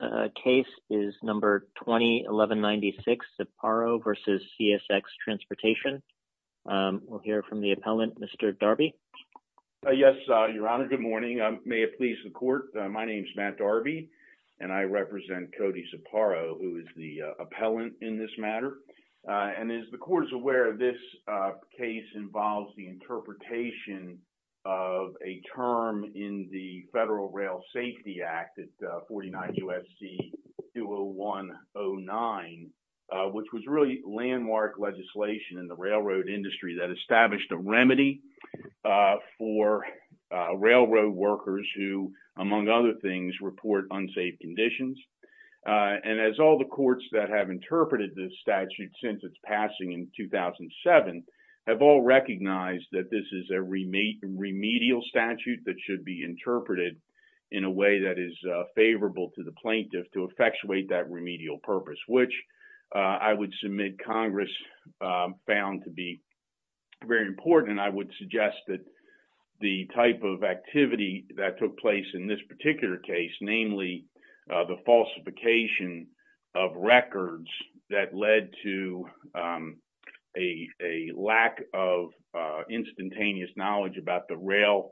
The next case is No. 20-1196, Ziparo v. CSX Transportation. We'll hear from the appellant, Mr. Darby. Yes, Your Honor. Good morning. May it please the Court, my name is Matt Darby, and I represent Cody Ziparo, who is the appellant in this matter. And as the Court is aware, this case involves the interpretation of a term in the Federal Rail Safety Act at 49 U.S.C. 201-09, which was really landmark legislation in the railroad industry that established a remedy for railroad workers who, among other things, report unsafe conditions. And as all the courts that have interpreted this statute since its passing in 2007 have all recognized that this is a remedial statute that should be interpreted in a way that is favorable to the plaintiff to effectuate that remedial purpose, which I would submit Congress found to be very important. I would suggest that the type of activity that took place in this particular case, namely the falsification of records that led to a lack of instantaneous knowledge about the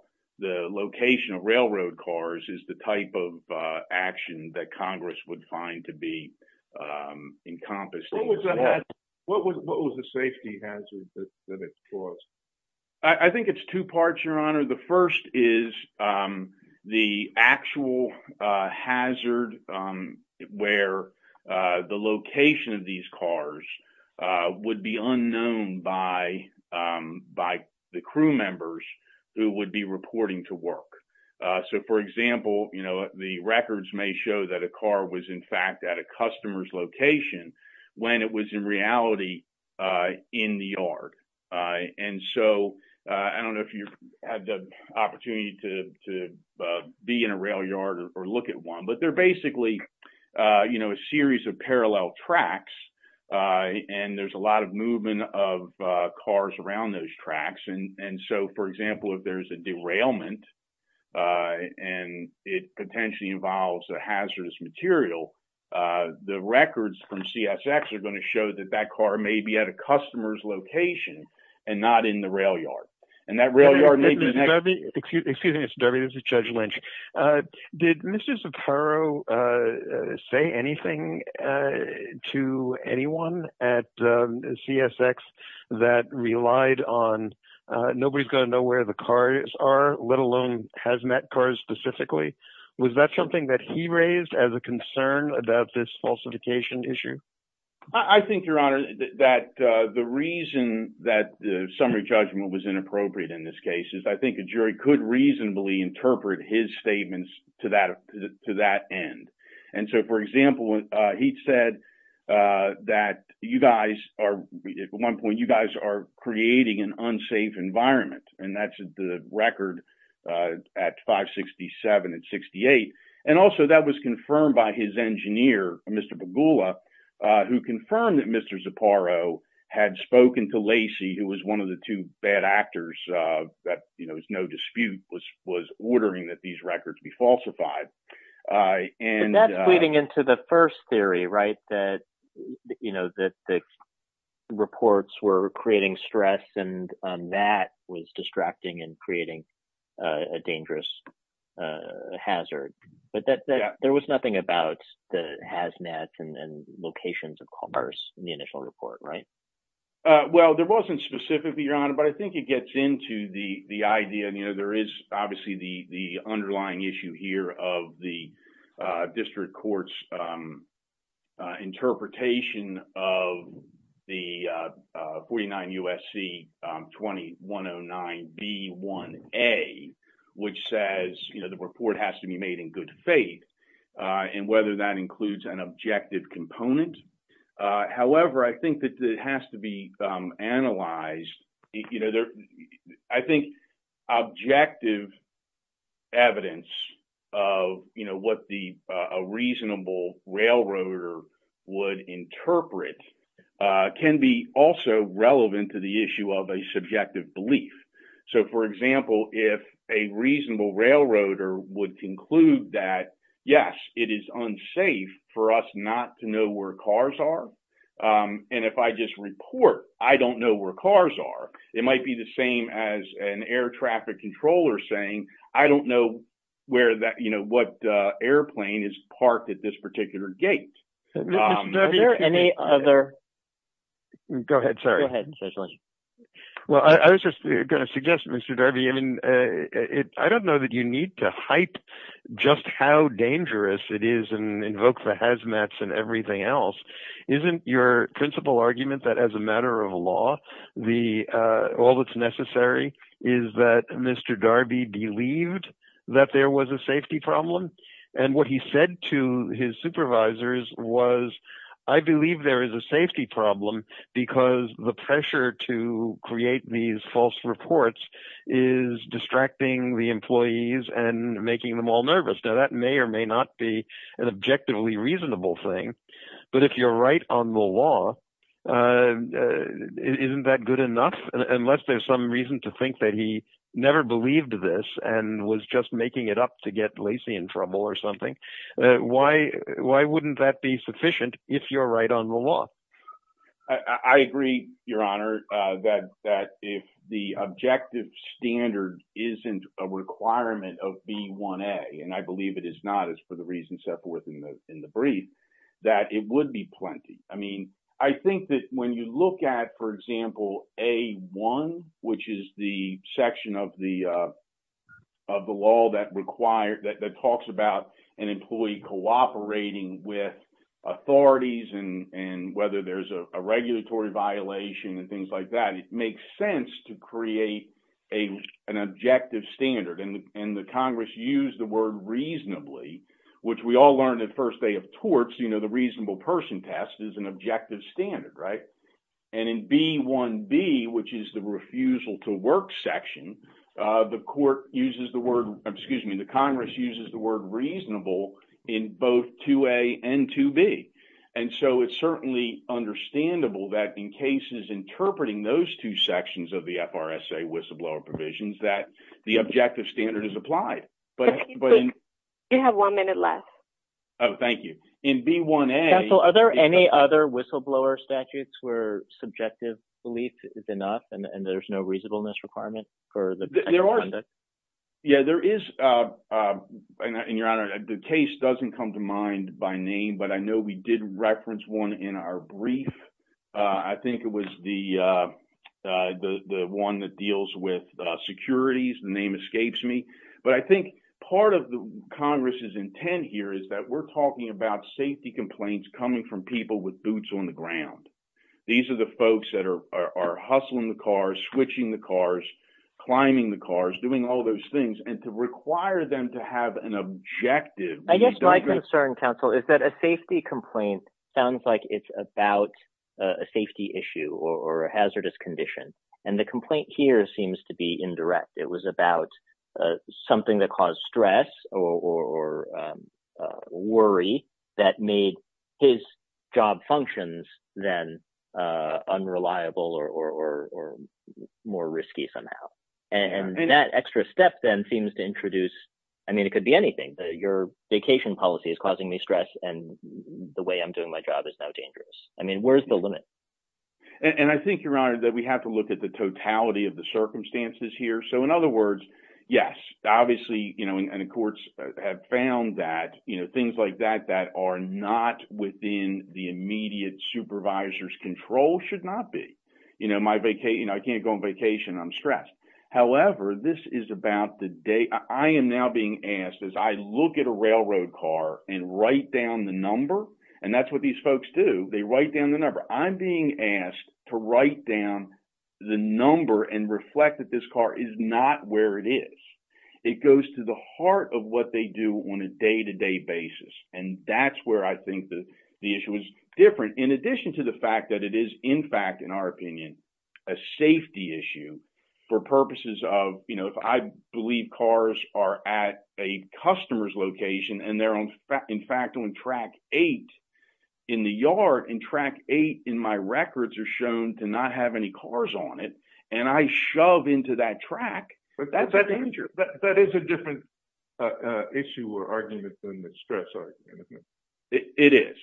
location of railroad cars, is the type of action that Congress would find to be encompassing. What was the safety hazard that it caused? The first is the actual hazard where the location of these cars would be unknown by the crew members who would be reporting to work. So, for example, the records may show that a car was, in fact, at a customer's location when it was in reality in the yard. And so I don't know if you've had the opportunity to be in a rail yard or look at one, but they're basically, you know, a series of parallel tracks and there's a lot of movement of cars around those tracks. And so, for example, if there's a derailment and it potentially involves a hazardous material, the records from CSX are going to show that that car may be at a customer's location and not in the rail yard. And that rail yard may be the next- Excuse me, Mr. Darby. This is Judge Lynch. Did Mr. Zaporo say anything to anyone at CSX that relied on nobody's going to know where the cars are, let alone has met cars specifically? Was that something that he raised as a concern about this falsification issue? I think, Your Honor, that the reason that the summary judgment was inappropriate in this case is I think a jury could reasonably interpret his statements to that end. And so, for example, he said that you guys are, at one point, you guys are creating an unsafe environment. And that's the record at 567 and 68. And also, that was confirmed by his engineer, Mr. Bogula, who confirmed that Mr. Zaporo had spoken to Lacey, who was one of the two bad actors that, you know, there's no dispute was ordering that these records be falsified. And that's leading into the first theory, right, that, you know, that the reports were creating stress and that was distracting and creating a dangerous hazard. But there was nothing about the has met and locations of cars in the initial report, right? Well, there wasn't specifically, Your Honor. But I think it gets into the idea, you know, there is obviously the underlying issue here of the district court's interpretation of the 49 U.S.C. 2109B1A, which says, you know, the report has to be made in good faith and whether that includes an objective component. However, I think that it has to be analyzed, you know, I think objective evidence of, you know, what the reasonable railroader would interpret can be also relevant to the issue of a subjective belief. So, for example, if a reasonable railroader would conclude that, yes, it is unsafe for us not to know where cars are. And if I just report, I don't know where cars are. It might be the same as an air traffic controller saying, I don't know where that, you know, what airplane is parked at this particular gate. Is there any other? Go ahead, sir. Well, I was just going to suggest, Mr. Darby, I mean, I don't know that you need to hype just how dangerous it is and invoke the hazmats and everything else. Isn't your principal argument that as a matter of law, all that's necessary is that Mr. Darby believed that there was a safety problem? And what he said to his supervisors was, I believe there is a safety problem because the pressure to create these false reports is distracting the employees and making them all nervous. Now, that may or may not be an objectively reasonable thing. But if you're right on the law, isn't that good enough? Unless there's some reason to think that he never believed this and was just making it up to get Lacey in trouble or something. Why wouldn't that be sufficient if you're right on the law? I agree, Your Honor, that if the objective standard isn't a requirement of B1A, and I believe it is not, as for the reasons set forth in the brief, that it would be plenty. I mean, I think that when you look at, for example, A1, which is the section of the law that talks about an employee cooperating with authorities and whether there's a regulatory violation and things like that, it makes sense to create an objective standard. And the Congress used the word reasonably, which we all learned at first day of torts, the reasonable person test is an objective standard, right? And in B1B, which is the refusal to work section, the Court uses the word, excuse me, the Congress uses the word reasonable in both 2A and 2B. And so it's certainly understandable that in cases interpreting those two sections of the FRSA whistleblower provisions that the objective standard is applied. But you have one minute left. Oh, thank you. In B1A- Subjective belief is enough and there's no reasonableness requirement for the conduct? Yeah, there is. And Your Honor, the case doesn't come to mind by name, but I know we did reference one in our brief. I think it was the one that deals with securities, the name escapes me. But I think part of the Congress's intent here is that we're talking about safety complaints coming from people with boots on the ground. These are the folks that are hustling the cars, switching the cars, climbing the cars, doing all those things. And to require them to have an objective- I guess my concern, counsel, is that a safety complaint sounds like it's about a safety issue or a hazardous condition. And the complaint here seems to be indirect. It was about something that caused stress or worry that made his job functions then unreliable or more risky somehow. And that extra step then seems to introduce- I mean, it could be anything. Your vacation policy is causing me stress and the way I'm doing my job is now dangerous. I mean, where's the limit? And I think, Your Honor, that we have to look at the totality of the circumstances here. So, in other words, yes, obviously, the courts have found that things like that that are not within the immediate supervisor's control should not be. I can't go on vacation. I'm stressed. However, this is about the day- I am now being asked, as I look at a railroad car and write down the number- and that's what these folks do. They write down the number. I'm being asked to write down the number and reflect that this car is not where it is. It goes to the heart of what they do on a day-to-day basis. And that's where I think the issue is different, in addition to the fact that it is, in fact, in our opinion, a safety issue for purposes of, you know, if I believe cars are at a customer's in the yard and track eight in my records are shown to not have any cars on it, and I shove into that track, that's a danger. But that is a different issue or argument than the stress argument. It is.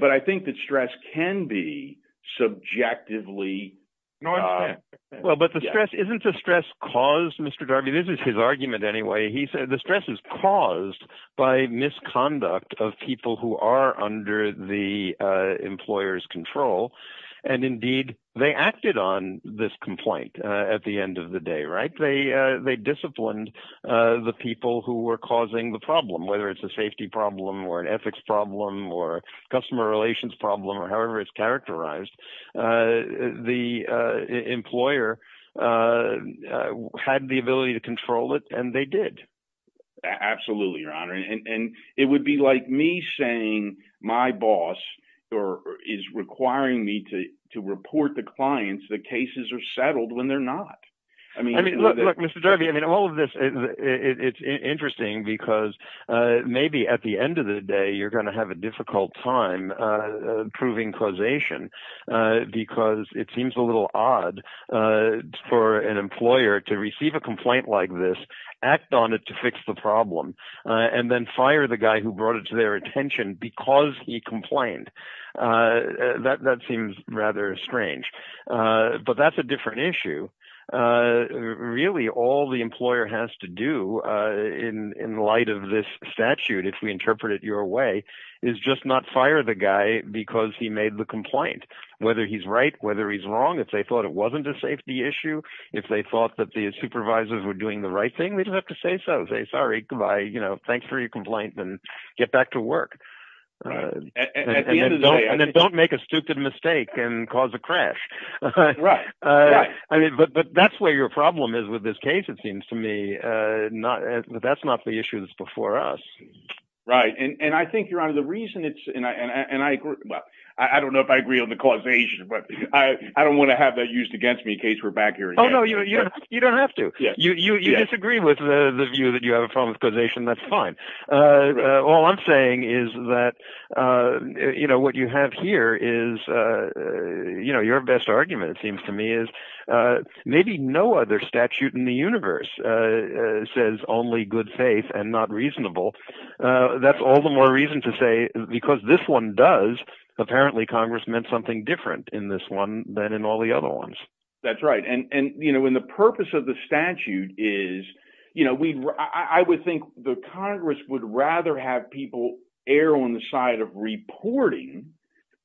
But I think that stress can be subjectively- Well, but the stress- isn't the stress caused, Mr. Darby? This is his argument anyway. The stress is caused by misconduct of people who are under the employer's control. And indeed, they acted on this complaint at the end of the day, right? They disciplined the people who were causing the problem, whether it's a safety problem or an ethics problem or a customer relations problem or however it's characterized. The employer had the ability to control it, and they did. Absolutely, Your Honor. And it would be like me saying my boss is requiring me to report the clients that cases are settled when they're not. I mean- I mean, look, Mr. Darby, I mean, all of this, it's interesting because maybe at the end of the day you're going to have a difficult time proving causation. Because it seems a little odd for an employer to receive a complaint like this, act on it to fix the problem, and then fire the guy who brought it to their attention because he complained. That seems rather strange. But that's a different issue. Really, all the employer has to do in light of this statute, if we interpret it your way, is just not fire the guy because he made the complaint. Whether he's right, whether he's wrong. If they thought it wasn't a safety issue, if they thought that the supervisors were doing the right thing, they didn't have to say so. Say, sorry, goodbye, thanks for your complaint, and get back to work. And then don't make a stupid mistake and cause a crash. But that's where your problem is with this case, it seems to me. That's not the issue that's before us. Right, and I think, Your Honor, the reason it's- Well, I don't know if I agree on the causation, but I don't want to have that used against me in case we're back here again. Oh, no, you don't have to. You disagree with the view that you have a problem with causation, that's fine. All I'm saying is that what you have here is your best argument, it seems to me, is maybe no other statute in the universe says only good faith and not reasonable. That's all the more reason to say, because this one does, apparently Congress meant something different in this one than in all the other ones. That's right, and the purpose of the statute is, I would think the Congress would rather have people err on the side of reporting,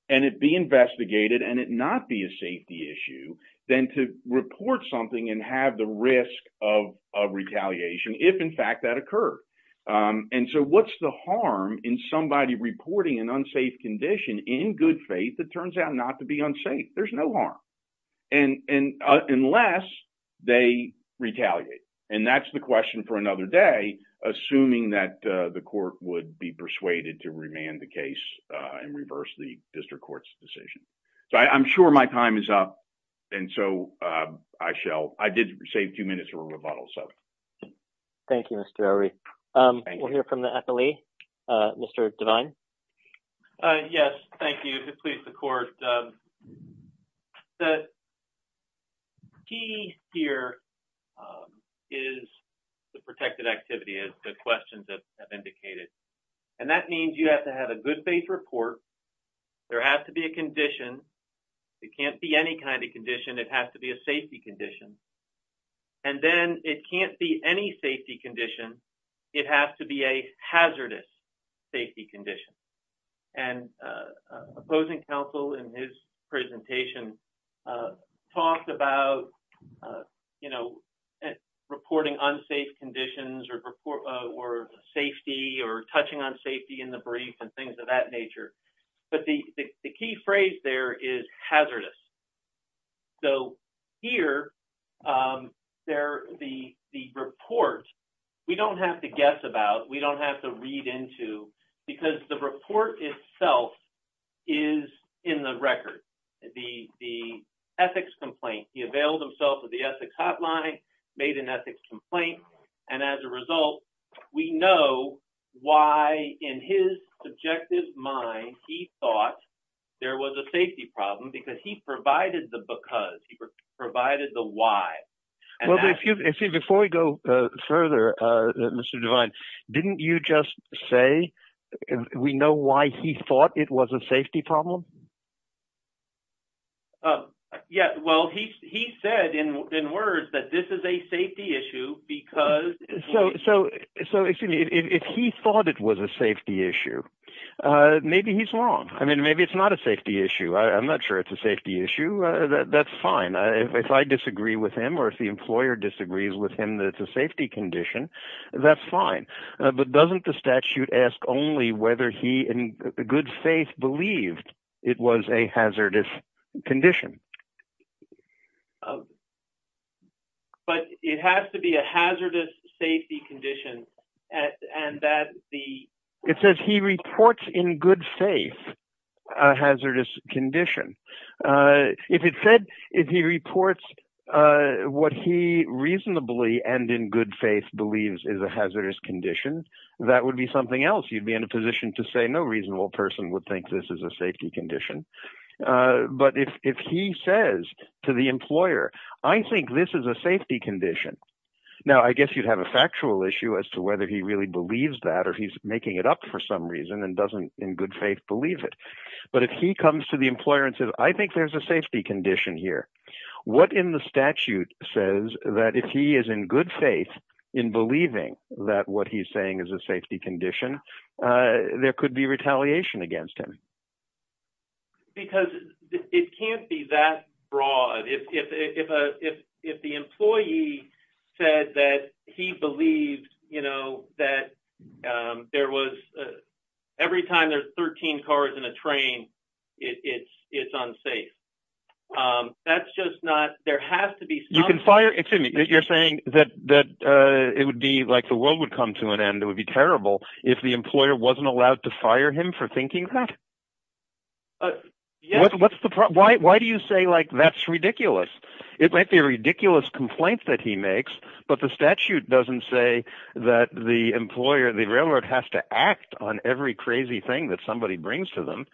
and it be investigated, and it not be a safety issue, than to report something and have the risk of retaliation if, in fact, that occurred. And so what's the harm in somebody reporting an unsafe condition in good faith that turns out not to be unsafe? There's no harm, unless they retaliate. And that's the question for another day, assuming that the court would be persuaded to remand the case and reverse the district court's decision. So I'm sure my time is up, and so I shall- I did save two minutes for rebuttal, so. Thank you, Mr. Elry. We'll hear from the FLE. Mr. Devine? Yes, thank you. It pleases the court. The key here is the protected activity, as the questions have indicated. And that means you have to have a good faith report. There has to be a condition. It can't be any kind of condition. It has to be a safety condition. And then it can't be any safety condition. It has to be a hazardous safety condition. And opposing counsel in his presentation talked about reporting unsafe conditions or safety or touching on safety in the brief and things of that nature. But the key phrase there is hazardous. So here, the report, we don't have to guess about, we don't have to read into, because the report itself is in the record. The ethics complaint, he availed himself of the ethics hotline, made an ethics complaint. And as a result, we know why in his subjective mind he thought there was a safety problem, because he provided the because. He provided the why. Well, see, before we go further, Mr. Devine, didn't you just say we know why he thought it was a safety problem? Yeah, well, he said in words that this is a safety issue because... So, excuse me, if he thought it was a safety issue, maybe he's wrong. I mean, maybe it's not a safety issue. I'm not sure it's a safety issue. That's fine. If I disagree with him or if the employer disagrees with him that it's a safety condition, that's fine. But doesn't the statute ask only whether he in good faith believed it was a hazardous condition? But it has to be a hazardous safety condition and that the... In good faith, a hazardous condition. If it said, if he reports what he reasonably and in good faith believes is a hazardous condition, that would be something else. You'd be in a position to say no reasonable person would think this is a safety condition. But if he says to the employer, I think this is a safety condition. Now, I guess you'd have a factual issue as to whether he really believes that or he's in good faith believe it. But if he comes to the employer and says, I think there's a safety condition here. What in the statute says that if he is in good faith in believing that what he's saying is a safety condition, there could be retaliation against him? Because it can't be that broad. If the employee said that he believed that there was... Every time there's 13 cars in a train, it's unsafe. That's just not... There has to be some... You can fire... Excuse me. You're saying that it would be like the world would come to an end. It would be terrible if the employer wasn't allowed to fire him for thinking that? Yes. What's the problem? Why do you say that's ridiculous? It might be a ridiculous complaint that he makes, but the statute doesn't say that the employer, the railroad has to act on every crazy thing that somebody brings to them.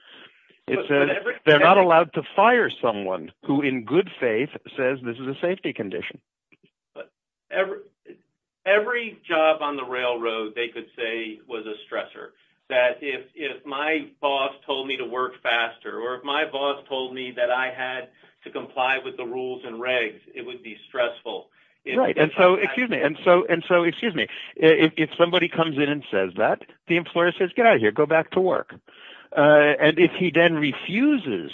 It says they're not allowed to fire someone who in good faith says this is a safety condition. But every job on the railroad, they could say was a stressor. That if my boss told me to work faster, or if my boss told me that I had to comply with the rules and regs, it would be stressful. Right. And so, excuse me, and so, excuse me, if somebody comes in and says that, the employer says, get out of here, go back to work. And if he then refuses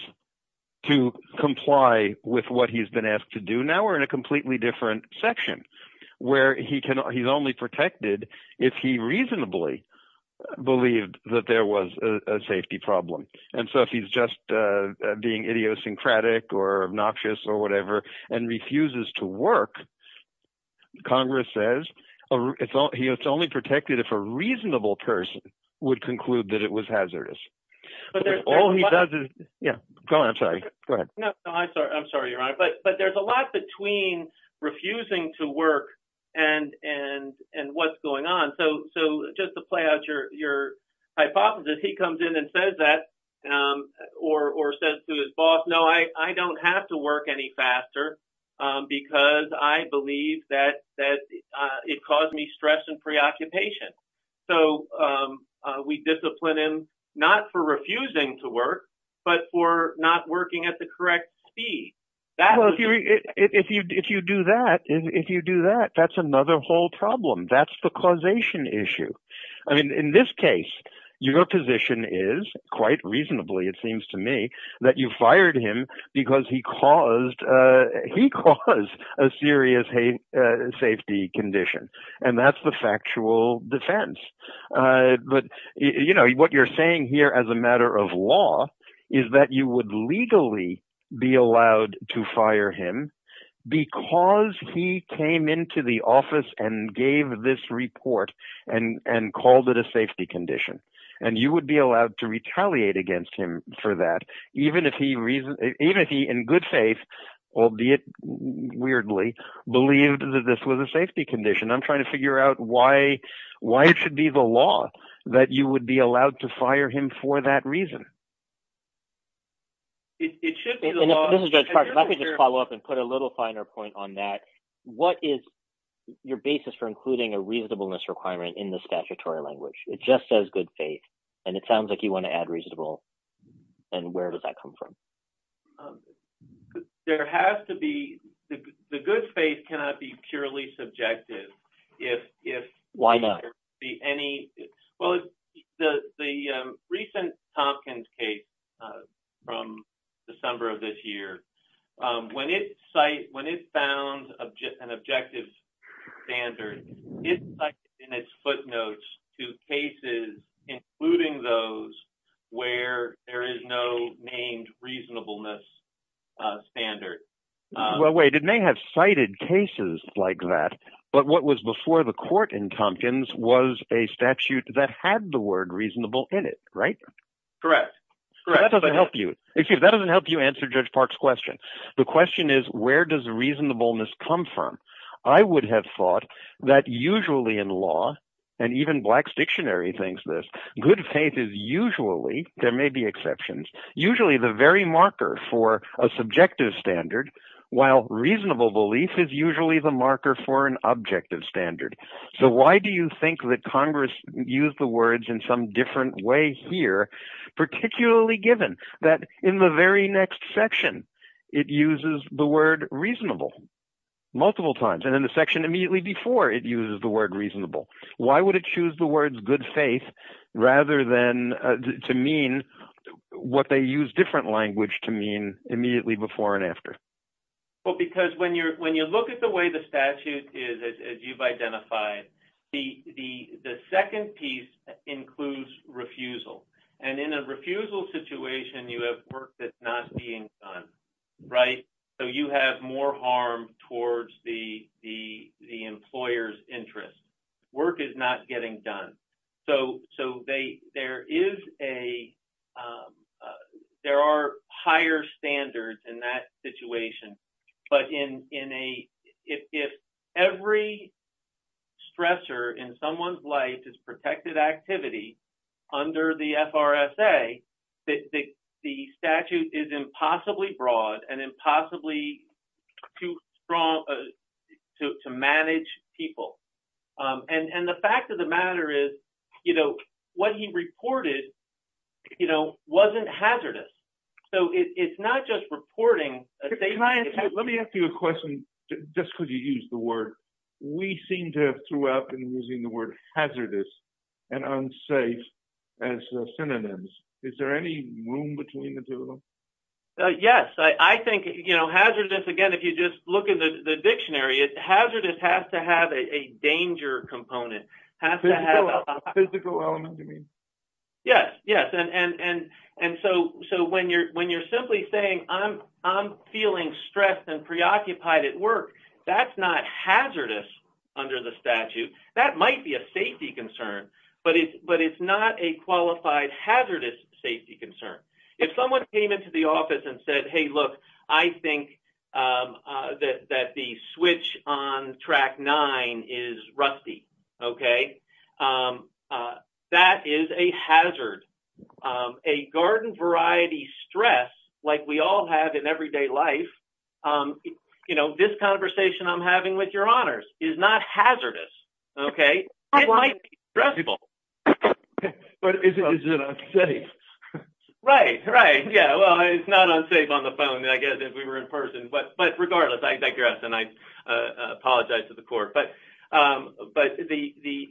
to comply with what he's been asked to do now, we're in a completely different section, where he's only protected if he reasonably believed that there was a safety problem. And so, if he's just being idiosyncratic or obnoxious or whatever, and refuses to work, Congress says it's only protected if a reasonable person would conclude that it was hazardous. But there's- All he does is- Yeah, go on. I'm sorry. Go ahead. No, I'm sorry. I'm sorry, Your Honor. But there's a lot between refusing to work and what's going on. So, just to play out your hypothesis, he comes in and says that, or says to his boss, no, I don't have to work any faster, because I believe that it caused me stress and preoccupation. So, we discipline him, not for refusing to work, but for not working at the correct speed. Well, if you do that, that's another whole problem. That's the causation issue. I mean, in this case, your position is, quite reasonably, it seems to me, that you fired him because he caused a serious safety condition. And that's the factual defense. But what you're saying here, as a matter of law, is that you would legally be allowed to fire him because he came into the office and gave this report and called it a safety condition. And you would be allowed to retaliate against him for that, even if he, in good faith, albeit weirdly, believed that this was a safety condition. I'm trying to figure out why it should be the law that you would be allowed to fire him for that reason. And if I could just follow up and put a little finer point on that, what is your basis for including a reasonableness requirement in the statutory language? It just says good faith, and it sounds like you want to add reasonable. And where does that come from? Um, there has to be... The good faith cannot be purely subjective. If... Why not? Well, the recent Tompkins case from December of this year, when it found an objective standard, it cited in its footnotes two cases, including those where there is no named reasonableness standard. Well, wait, it may have cited cases like that, but what was before the court in Tompkins was a statute that had the word reasonable in it, right? Correct. That doesn't help you. Excuse me, that doesn't help you answer Judge Park's question. The question is, where does reasonableness come from? I would have thought that usually in law, and even Black's Dictionary thinks this, good faith is usually, there may be exceptions, usually the very marker for a subjective standard, while reasonable belief is usually the marker for an objective standard. So why do you think that Congress used the words in some different way here, particularly given that in the very next section, it uses the word reasonable? Multiple times, and in the section immediately before, it uses the word reasonable. Why would it choose the words good faith rather than to mean what they use different language to mean immediately before and after? Well, because when you look at the way the statute is, as you've identified, the second piece includes refusal. And in a refusal situation, you have work that's not being done, right? So you have more harm towards the employer's interest. Work is not getting done. So there are higher standards in that situation. But if every stressor in someone's life is protected activity under the FRSA, the statute is impossibly broad and impossibly too strong to manage people. And the fact of the matter is, you know, what he reported, you know, wasn't hazardous. So it's not just reporting. Let me ask you a question, just because you use the word, we seem to have throughout been using the word hazardous and unsafe as synonyms. Is there any room between the two of them? Yes, I think, you know, hazardous, again, if you just look at the dictionary, hazardous has to have a danger component. Physical element, you mean? Yes, yes. And so when you're simply saying, I'm feeling stressed and preoccupied at work, that's not hazardous under the statute. That might be a safety concern, but it's not a qualified hazardous safety concern. If someone came into the office and said, hey, look, I think that the switch on track nine is rusty, okay, that is a hazard. A garden variety stress, like we all have in everyday life, you know, this conversation I'm having with your honors is not hazardous, okay, it might be stressful. But is it unsafe? Right, right. Yeah, well, it's not unsafe on the phone, I guess, if we were in person. But regardless, I digress and I apologize to the court. But the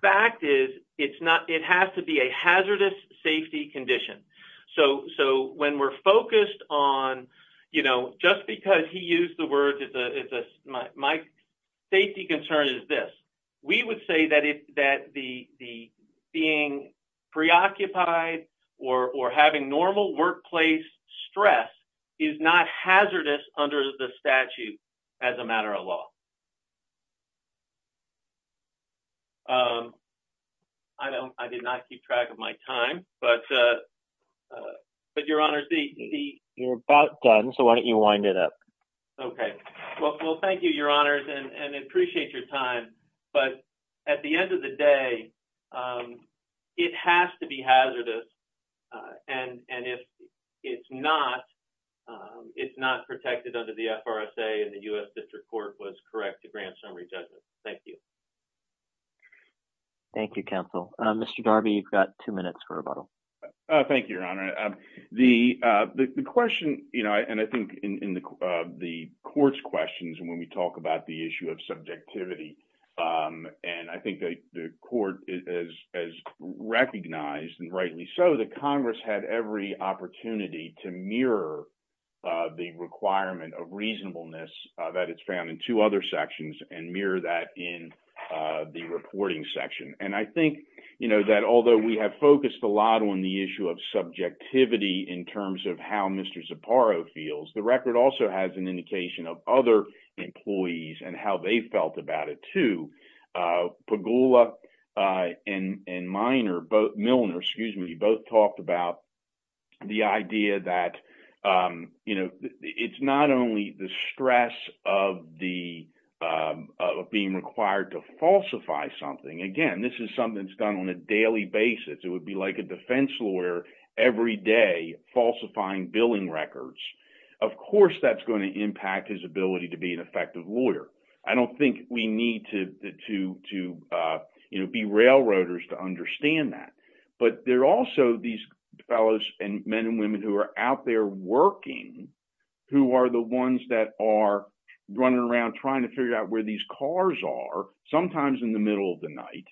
fact is, it has to be a hazardous safety condition. So when we're focused on, you know, just because he used the word, my safety concern is this. We would say that the being preoccupied or having normal workplace stress is not hazardous under the statute as a matter of law. I did not keep track of my time, but your honors, the... You're about done, so why don't you wind it up? Okay, well, thank you, your honors, and I appreciate your time. But at the end of the day, it has to be hazardous. And if it's not, it's not protected under the FRSA and the U.S. District Court was correct to grant summary judgment. Thank you. Thank you, counsel. Mr. Darby, you've got two minutes for rebuttal. Thank you, your honor. The question, you know, and I think in the court's questions, and when we talk about the issue of subjectivity, and I think the court has recognized, and rightly so, that Congress had every opportunity to mirror the requirement of reasonableness that it's found in two other sections and mirror that in the reporting section. And I think, you know, that although we have focused a lot on the issue of subjectivity in terms of how Mr. Zapparo feels, the record also has an indication of other employees and how they felt about it, too. Pegula and Milner, excuse me, both talked about the idea that, you know, it's not only the stress of being required to falsify something. Again, this is something that's done on a daily basis. It would be like a defense lawyer every day falsifying billing records. Of course that's going to impact his ability to be an effective lawyer. I don't think we need to, you know, be railroaders to understand that. But there are also these fellows and men and women who are out there working who are the ones that are running around trying to figure out where these cars are, sometimes in the night,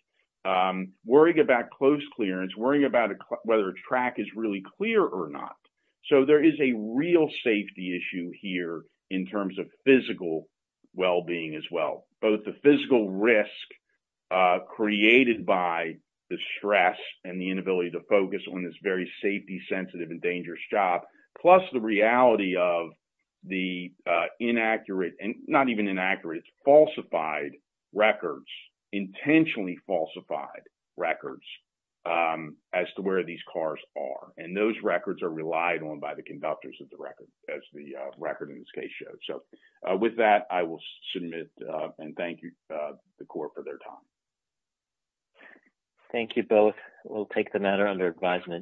worrying about close clearance, worrying about whether a track is really clear or not. So there is a real safety issue here in terms of physical well-being as well, both the physical risk created by the stress and the inability to focus on this very safety-sensitive and dangerous job, plus the reality of the inaccurate and not even inaccurate, falsified records intentionally falsified records as to where these cars are. And those records are relied on by the conductors of the record as the record in this case shows. So with that, I will submit and thank the court for their time. Thank you both. We'll take the matter under advisement.